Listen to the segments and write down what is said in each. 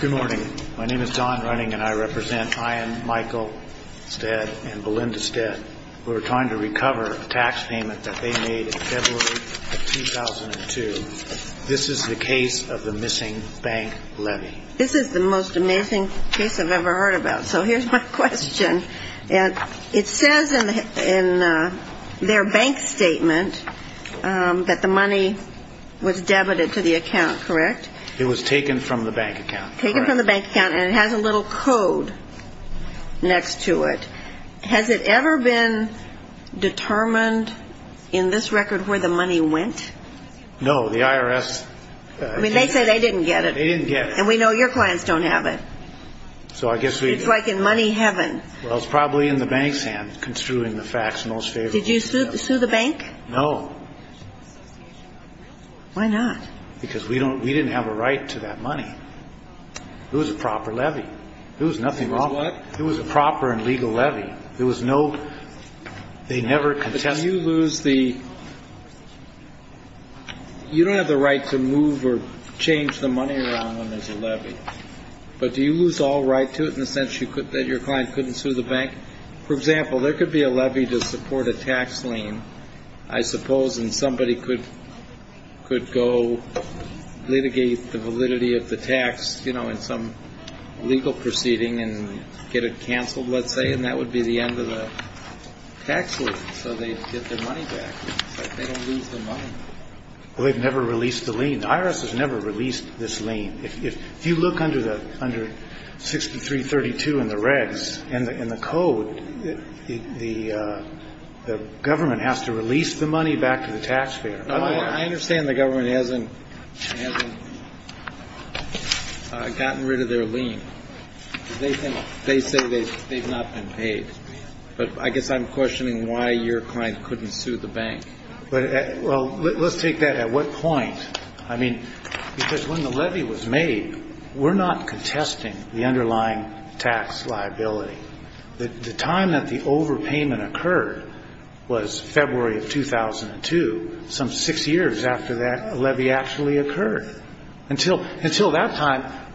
Good morning. My name is Don Runnig and I represent Ian Michael Stead and Belinda Stead, who are trying to recover a tax payment that they made in February of 2002. This is the case of the missing bank levy. This is the most amazing case I've ever heard about, so here's my question. It says in their bank statement that the money was debited to the account, correct? It was taken from the bank account. Taken from the bank account and it has a little code next to it. Has it ever been determined in this record where the money went? No, the IRS... I mean, they say they didn't get it. They didn't get it. And we know your clients don't have it. So I guess we... It's like in money heaven. Well, it's probably in the bank's hand construing the facts most favorably. Did you sue the bank? No. Why not? Because we didn't have a right to that money. It was a proper levy. There was nothing wrong with it. It was what? It was a proper and legal levy. There was no... they never contested... But do you lose the... you don't have the right to move or change the money around when there's a levy. But do you lose all right to it in the sense that your client couldn't sue the bank? For example, there could be a levy to support a tax lien, I suppose, and somebody could go litigate the validity of the tax, you know, in some legal proceeding and get it canceled, let's say, and that would be the end of the tax lien. So they get their money back. It's like they don't lose their money. Well, they've never released the lien. The IRS has never released this lien. If you look under 6332 in the regs, in the code, the government has to release the money back to the taxpayer. I understand the government hasn't gotten rid of their lien. They say they've not been paid. But I guess I'm questioning why your client couldn't sue the bank. Well, let's take that at what point. I mean, because when the levy was made, we're not contesting the underlying tax liability. The time that the overpayment occurred was February of 2002, some six years after that levy actually occurred. Until that time,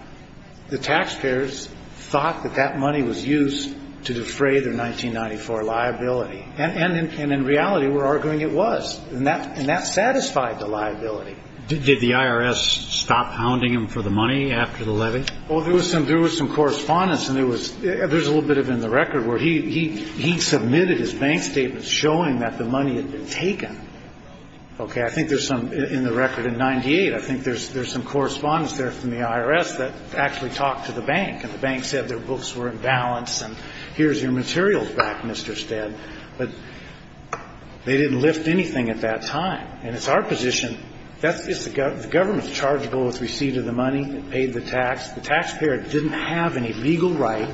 the taxpayers thought that that money was used to defray their 1994 liability. And in reality, we're arguing it was. And that satisfied the liability. Did the IRS stop hounding him for the money after the levy? Well, there was some correspondence, and there's a little bit of it in the record, where he submitted his bank statements showing that the money had been taken. Okay, I think there's some in the record in 98. I think there's some correspondence there from the IRS that actually talked to the bank. And the bank said their books were in balance, and here's your materials back, Mr. Stead. But they didn't lift anything at that time. And it's our position that the government's chargable with receiving the money and paid the tax. The taxpayer didn't have any legal right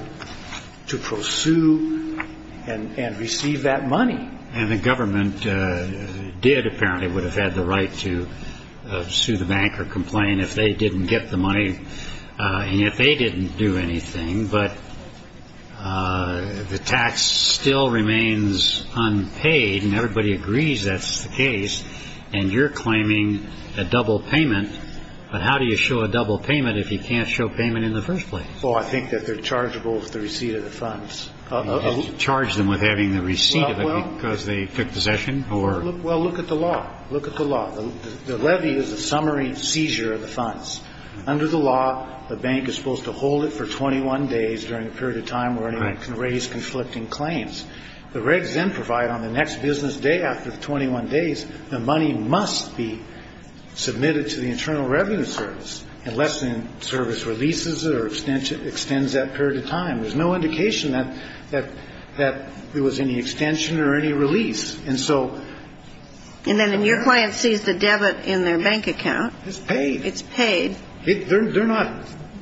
to pursue and receive that money. And the government did, apparently, would have had the right to sue the bank or complain if they didn't get the money and if they didn't do anything. But the tax still remains unpaid, and everybody agrees that's the case. And you're claiming a double payment. But how do you show a double payment if you can't show payment in the first place? Oh, I think that they're chargable with the receipt of the funds. You didn't charge them with having the receipt of it because they took possession? Well, look at the law. Look at the law. The levy is a summary seizure of the funds. Under the law, the bank is supposed to hold it for 21 days during a period of time where anyone can raise conflicting claims. The regs then provide on the next business day after the 21 days, the money must be submitted to the Internal Revenue Service unless the service releases it or extends that period of time. There's no indication that there was any extension or any release. And then your client sees the debit in their bank account. It's paid. It's paid.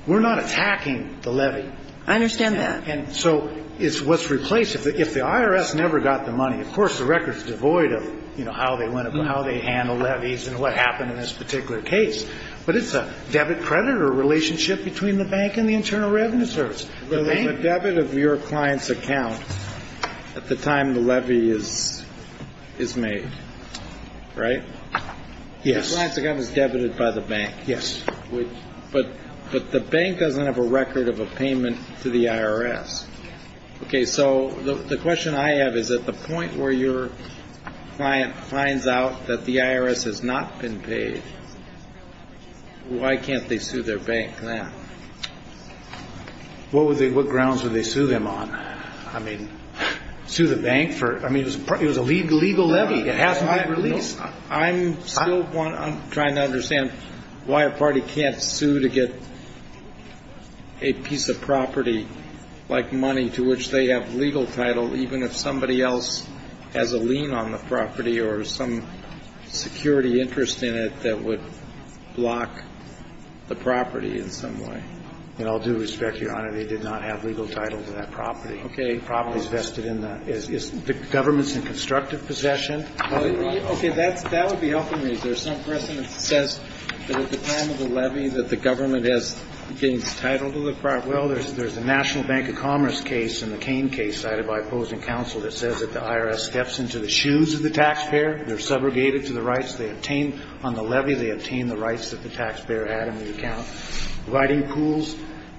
We're not attacking the levy. I understand that. And so it's what's replaced. If the IRS never got the money, of course the record's devoid of, you know, how they handled levies and what happened in this particular case. But it's a debit-creditor relationship between the bank and the Internal Revenue Service. The debit of your client's account at the time the levy is made, right? Yes. The client's account is debited by the bank. Yes. But the bank doesn't have a record of a payment to the IRS. Okay, so the question I have is at the point where your client finds out that the IRS has not been paid, why can't they sue their bank now? What grounds would they sue them on? I mean, sue the bank? I mean, it was a legal levy. It hasn't been released. I'm still trying to understand why a party can't sue to get a piece of property like money to which they have legal title even if somebody else has a lien on the property or some security interest in it that would block the property in some way. With all due respect, Your Honor, they did not have legal title to that property. Okay. The property's vested in the government's constructive possession. Okay. That would be helpful to me. There's some precedent that says that at the time of the levy that the government gains title to the property. Well, there's a National Bank of Commerce case in the Cain case cited by opposing counsel that says that the IRS steps into the shoes of the taxpayer. They're subrogated to the rights they obtain on the levy. They obtain the rights that the taxpayer had in the account. Writing pools,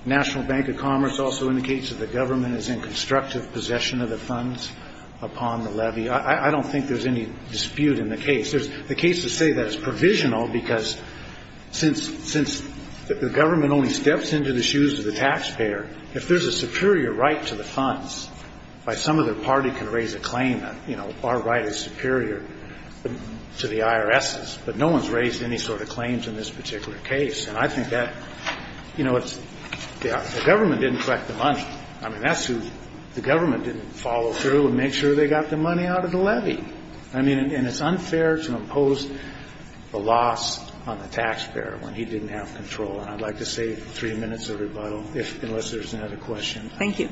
National Bank of Commerce also indicates that the government is in constructive possession of the funds upon the levy. I don't think there's any dispute in the case. There's the case to say that it's provisional because since the government only steps into the shoes of the taxpayer, if there's a superior right to the funds, by some other party can raise a claim that, you know, our right is superior to the IRS's. But no one's raised any sort of claims in this particular case. And I think that, you know, it's the government didn't collect the money. I mean, that's who the government didn't follow through and make sure they got the money out of the levy. I mean, and it's unfair to impose the loss on the taxpayer when he didn't have control. And I'd like to save three minutes of rebuttal unless there's another question. Thank you.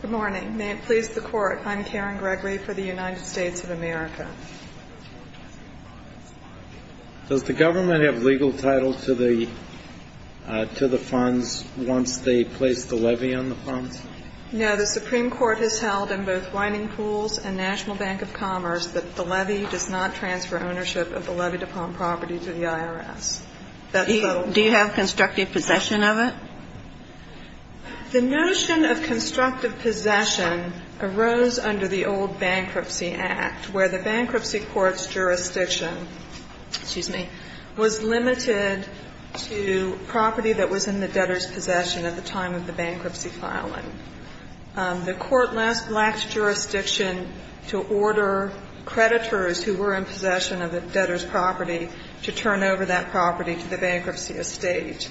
Good morning. May it please the Court. I'm Karen Gregory for the United States of America. Does the government have legal title to the funds once they place the levy on the funds? No. The Supreme Court has held in both Whining Pools and National Bank of Commerce that the levy does not transfer ownership of the levy-to-Palm property to the IRS. Do you have constructive possession of it? The notion of constructive possession arose under the old Bankruptcy Act, where the bankruptcy court's jurisdiction was limited to property that was in the debtor's The court lacked jurisdiction to order creditors who were in possession of the debtor's property to turn over that property to the bankruptcy estate.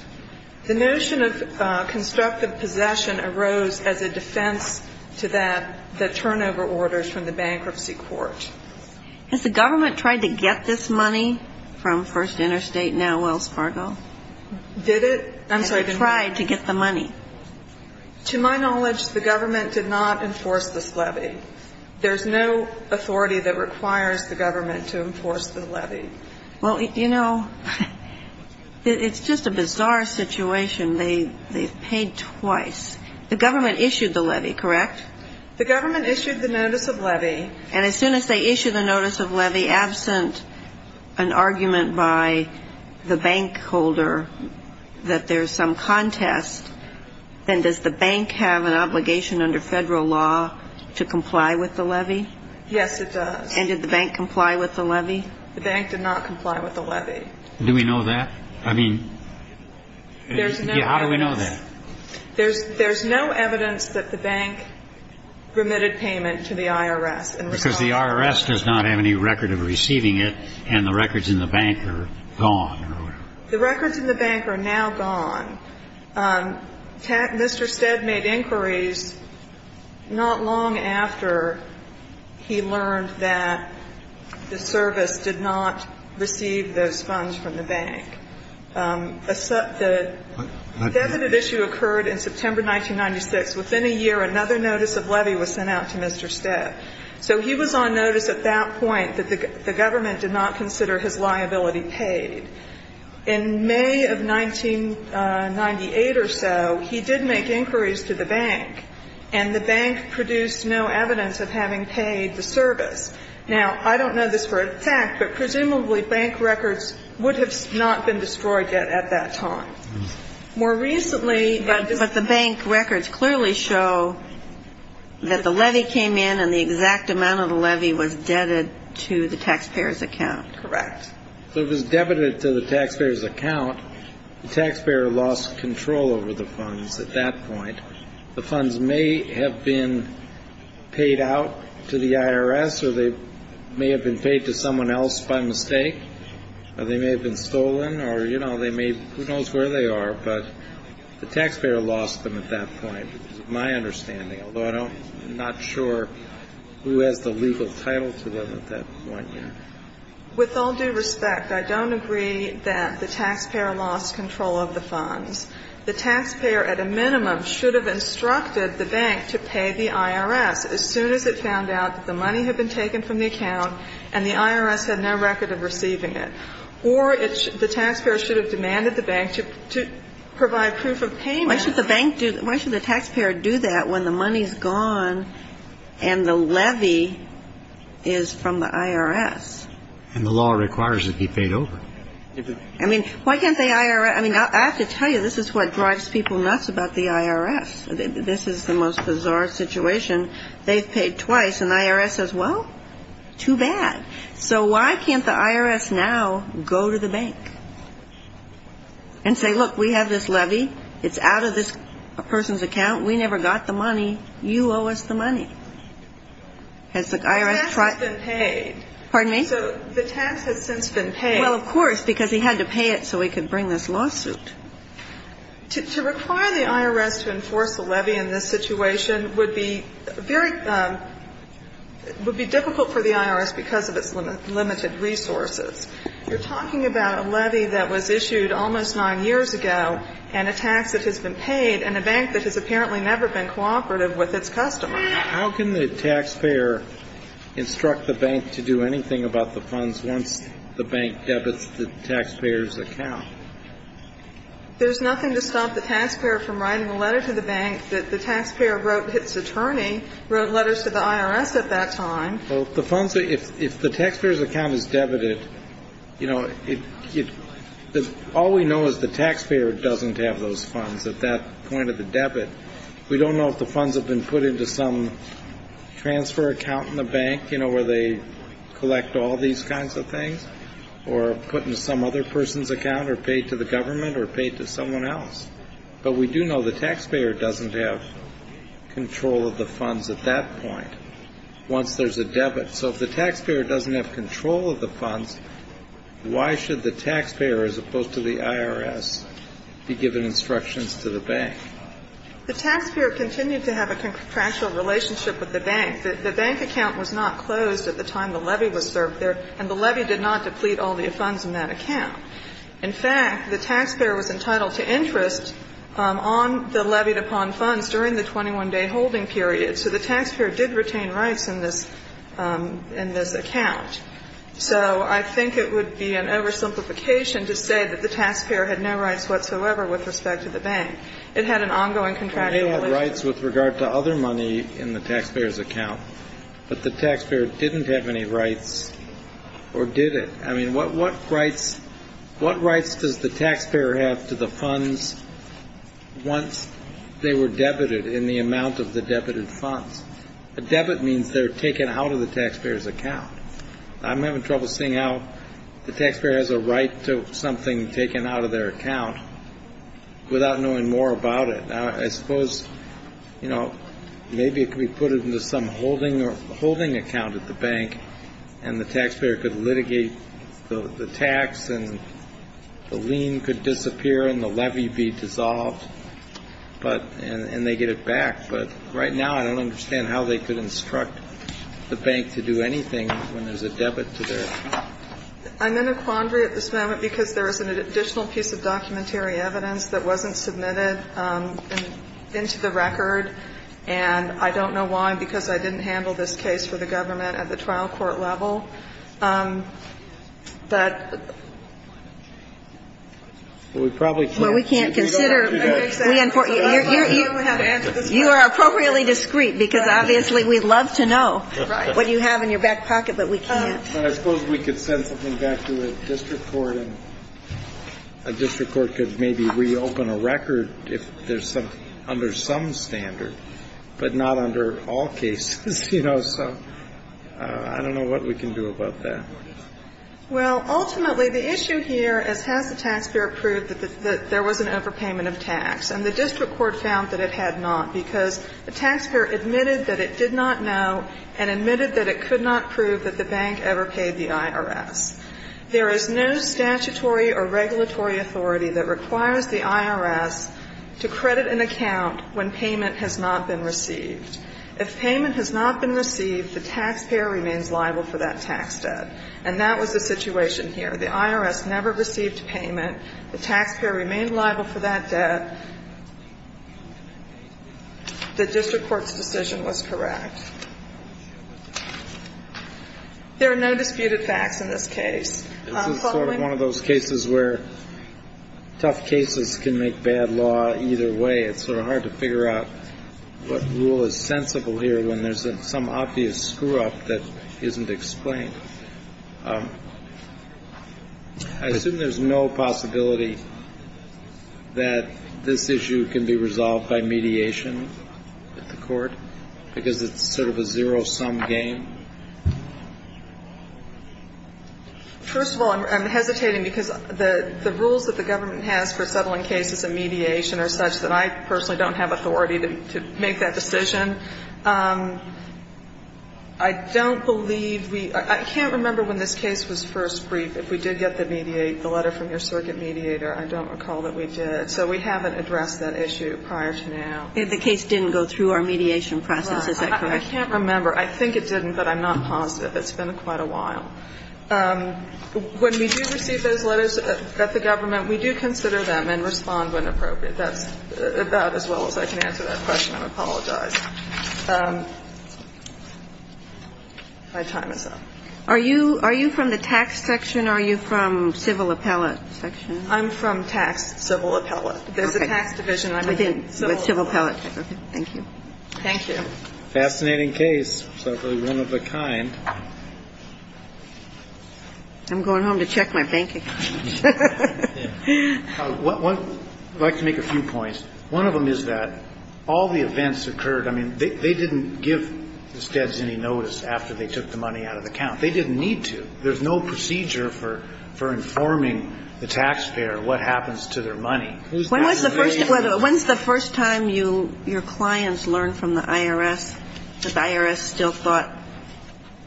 The notion of constructive possession arose as a defense to that, the turnover orders from the bankruptcy court. Has the government tried to get this money from First Interstate, now Wells Fargo? Did it? I'm sorry. Has the government tried to get the money? To my knowledge, the government did not enforce this levy. There's no authority that requires the government to enforce the levy. Well, you know, it's just a bizarre situation. They've paid twice. The government issued the levy, correct? The government issued the notice of levy. And as soon as they issued the notice of levy, an argument by the bank holder that there's some contest, then does the bank have an obligation under federal law to comply with the levy? Yes, it does. And did the bank comply with the levy? The bank did not comply with the levy. Do we know that? I mean, how do we know that? There's no evidence that the bank permitted payment to the IRS. Because the IRS does not have any record of receiving it, and the records in the bank are gone. The records in the bank are now gone. Mr. Stead made inquiries not long after he learned that the service did not receive those funds from the bank. The definitive issue occurred in September 1996. Within a year, another notice of levy was sent out to Mr. Stead. So he was on notice at that point that the government did not consider his liability paid. In May of 1998 or so, he did make inquiries to the bank, and the bank produced no evidence of having paid the service. Now, I don't know this for a fact, but presumably bank records would have not been destroyed yet at that time. More recently they were destroyed. But the bank records clearly show that the levy came in, and the exact amount of the levy was debited to the taxpayer's account. Correct. So it was debited to the taxpayer's account. The taxpayer lost control over the funds at that point. The funds may have been paid out to the IRS, or they may have been paid to someone else by mistake, or they may have been stolen, or, you know, who knows where they are. But the taxpayer lost them at that point, is my understanding, although I'm not sure who has the legal title to them at that point yet. With all due respect, I don't agree that the taxpayer lost control of the funds. The taxpayer, at a minimum, should have instructed the bank to pay the IRS as soon as it found out that the money had been taken from the account and the IRS had no record of receiving it. Or the taxpayer should have demanded the bank to provide proof of payment. Why should the bank do that? Why should the taxpayer do that when the money is gone and the levy is from the IRS? And the law requires it be paid over. I mean, why can't the IRS? I mean, I have to tell you, this is what drives people nuts about the IRS. This is the most bizarre situation. They've paid twice, and the IRS says, well, too bad. So why can't the IRS now go to the bank and say, look, we have this levy. It's out of this person's account. We never got the money. You owe us the money. Has the IRS tried? The tax has been paid. Pardon me? So the tax has since been paid. Well, of course, because he had to pay it so he could bring this lawsuit. To require the IRS to enforce the levy in this situation would be very, would be difficult for the IRS because of its limited resources. You're talking about a levy that was issued almost nine years ago and a tax that has been paid and a bank that has apparently never been cooperative with its customers. How can the taxpayer instruct the bank to do anything about the funds once the bank debits the taxpayer's account? There's nothing to stop the taxpayer from writing a letter to the bank that the taxpayer wrote its attorney, wrote letters to the IRS at that time. Well, the funds, if the taxpayer's account is debited, you know, all we know is the taxpayer doesn't have those funds at that point of the debit. We don't know if the funds have been put into some transfer account in the bank, you know, where they collect all these kinds of things, or put into some other person's account or paid to the government or paid to someone else. But we do know the taxpayer doesn't have control of the funds at that point once there's a debit. So if the taxpayer doesn't have control of the funds, why should the taxpayer as opposed to the IRS be given instructions to the bank? The taxpayer continued to have a contractual relationship with the bank. The bank account was not closed at the time the levy was served there, and the levy did not deplete all the funds in that account. In fact, the taxpayer was entitled to interest on the levied upon funds during the 21-day holding period. So the taxpayer did retain rights in this account. So I think it would be an oversimplification to say that the taxpayer had no rights whatsoever with respect to the bank. It had an ongoing contractual relationship. Well, they had rights with regard to other money in the taxpayer's account, but the taxpayer didn't have any rights or did it? I mean, what rights does the taxpayer have to the funds once they were debited in the amount of the debited funds? A debit means they're taken out of the taxpayer's account. I'm having trouble seeing how the taxpayer has a right to something taken out of their account without knowing more about it. I suppose, you know, maybe it could be put into some holding account at the bank, and the taxpayer could litigate the tax, and the lien could disappear, and the levy be dissolved, and they get it back. But right now I don't understand how they could instruct the bank to do anything when there's a debit to their account. I'm in a quandary at this moment because there is an additional piece of documentary evidence that wasn't submitted into the record, and I don't know why, because I didn't handle this case for the government at the trial court level. But we probably can't. Well, we can't consider. You are appropriately discreet, because obviously we'd love to know what you have in your back pocket, but we can't. But I suppose we could send something back to the district court, and a district court could maybe reopen a record if there's something under some standard, but not under all cases, you know. So I don't know what we can do about that. Well, ultimately, the issue here is, has the taxpayer proved that there was an overpayment of tax? And the district court found that it had not, because the taxpayer admitted that it did not know and admitted that it could not prove that the bank ever paid the IRS. There is no statutory or regulatory authority that requires the IRS to credit an account when payment has not been received. If payment has not been received, the taxpayer remains liable for that tax debt. And that was the situation here. The IRS never received payment. The taxpayer remained liable for that debt. The district court's decision was correct. There are no disputed facts in this case. This is sort of one of those cases where tough cases can make bad law either way. It's sort of hard to figure out what rule is sensible here when there's some obvious screw-up that isn't explained. I assume there's no possibility that this issue can be resolved by mediation at the court, because it's so sort of a zero-sum game? First of all, I'm hesitating because the rules that the government has for settling cases in mediation are such that I personally don't have authority to make that decision. I don't believe we – I can't remember when this case was first briefed. If we did get the letter from your circuit mediator, I don't recall that we did. So we haven't addressed that issue prior to now. If the case didn't go through our mediation process, is that correct? I can't remember. I think it didn't, but I'm not positive. It's been quite a while. When we do receive those letters at the government, we do consider them and respond when appropriate. That's about as well as I can answer that question. I apologize. My time is up. Are you from the tax section or are you from civil appellate section? I'm from tax civil appellate. There's a tax division. I'm from civil appellate. Okay. Thank you. Thank you. Fascinating case. Certainly one of a kind. I'm going home to check my banking. I'd like to make a few points. One of them is that all the events occurred. I mean, they didn't give the feds any notice after they took the money out of the account. They didn't need to. There's no procedure for informing the taxpayer what happens to their money. When was the first time your clients learned from the IRS that the IRS still thought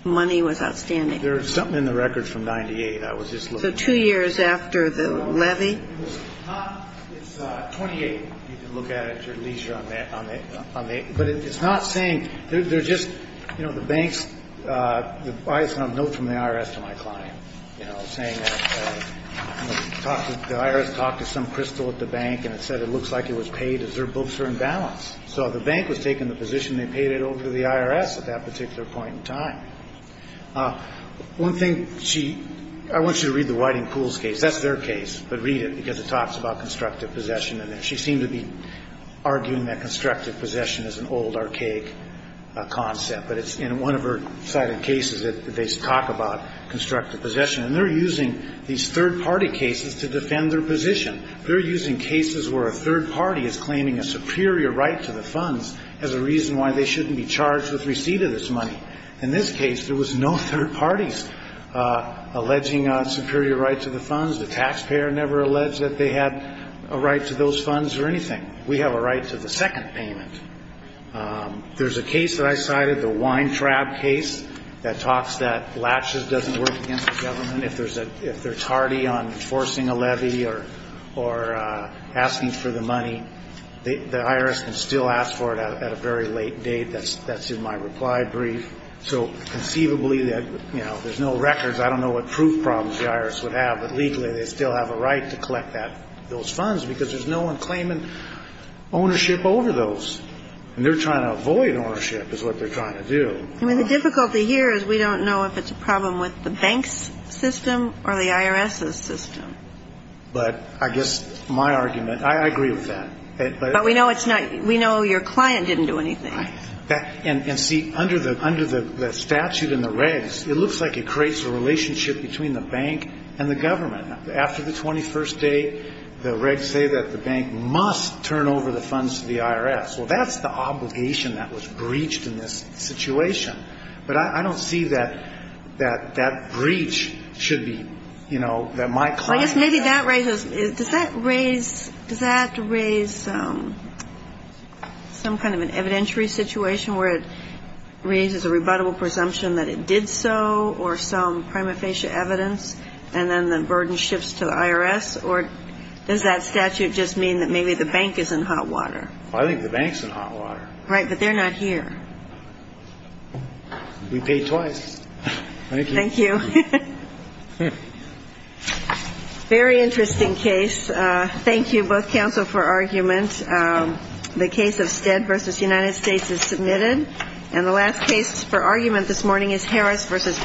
money was outstanding? There's something in the record from 1998. I was just looking at it. So two years after the levy? It's not. It's 28. You can look at it at your leisure. But it's not saying. They're just, you know, the banks, I sent a note from the IRS to my client, you know, saying that the IRS talked to some crystal at the bank and it said it looks like it was paid as their books were in balance. So the bank was taking the position they paid it over to the IRS at that particular point in time. One thing she – I want you to read the Whiting Pools case. That's their case. But read it because it talks about constructive possession. And she seemed to be arguing that constructive possession is an old, archaic concept. But it's in one of her cited cases that they talk about constructive possession. And they're using these third-party cases to defend their position. They're using cases where a third party is claiming a superior right to the funds as a reason why they shouldn't be charged with receipt of this money. In this case, there was no third parties alleging a superior right to the funds. The taxpayer never alleged that they had a right to those funds or anything. We have a right to the second payment. There's a case that I cited, the Weintraub case, that talks that latches doesn't work against the government. If they're tardy on enforcing a levy or asking for the money, the IRS can still ask for it at a very late date. That's in my reply brief. So conceivably, you know, there's no records. I don't know what proof problems the IRS would have. But legally, they still have a right to collect those funds because there's no one claiming ownership over those. And they're trying to avoid ownership is what they're trying to do. I mean, the difficulty here is we don't know if it's a problem with the bank's system or the IRS's system. But I guess my argument, I agree with that. But we know it's not. We know your client didn't do anything. And see, under the statute in the regs, it looks like it creates a relationship between the bank and the government. After the 21st day, the regs say that the bank must turn over the funds to the IRS. Well, that's the obligation that was breached in this situation. But I don't see that that breach should be, you know, that my client should have. Does that raise some kind of an evidentiary situation where it raises a rebuttable presumption that it did so, or some prima facie evidence, and then the burden shifts to the IRS? Or does that statute just mean that maybe the bank is in hot water? I think the bank's in hot water. Right, but they're not here. We paid twice. Thank you. Very interesting case. Thank you, both counsel, for argument. The case of Stead v. United States is submitted. And the last case for argument this morning is Harris v. Bates.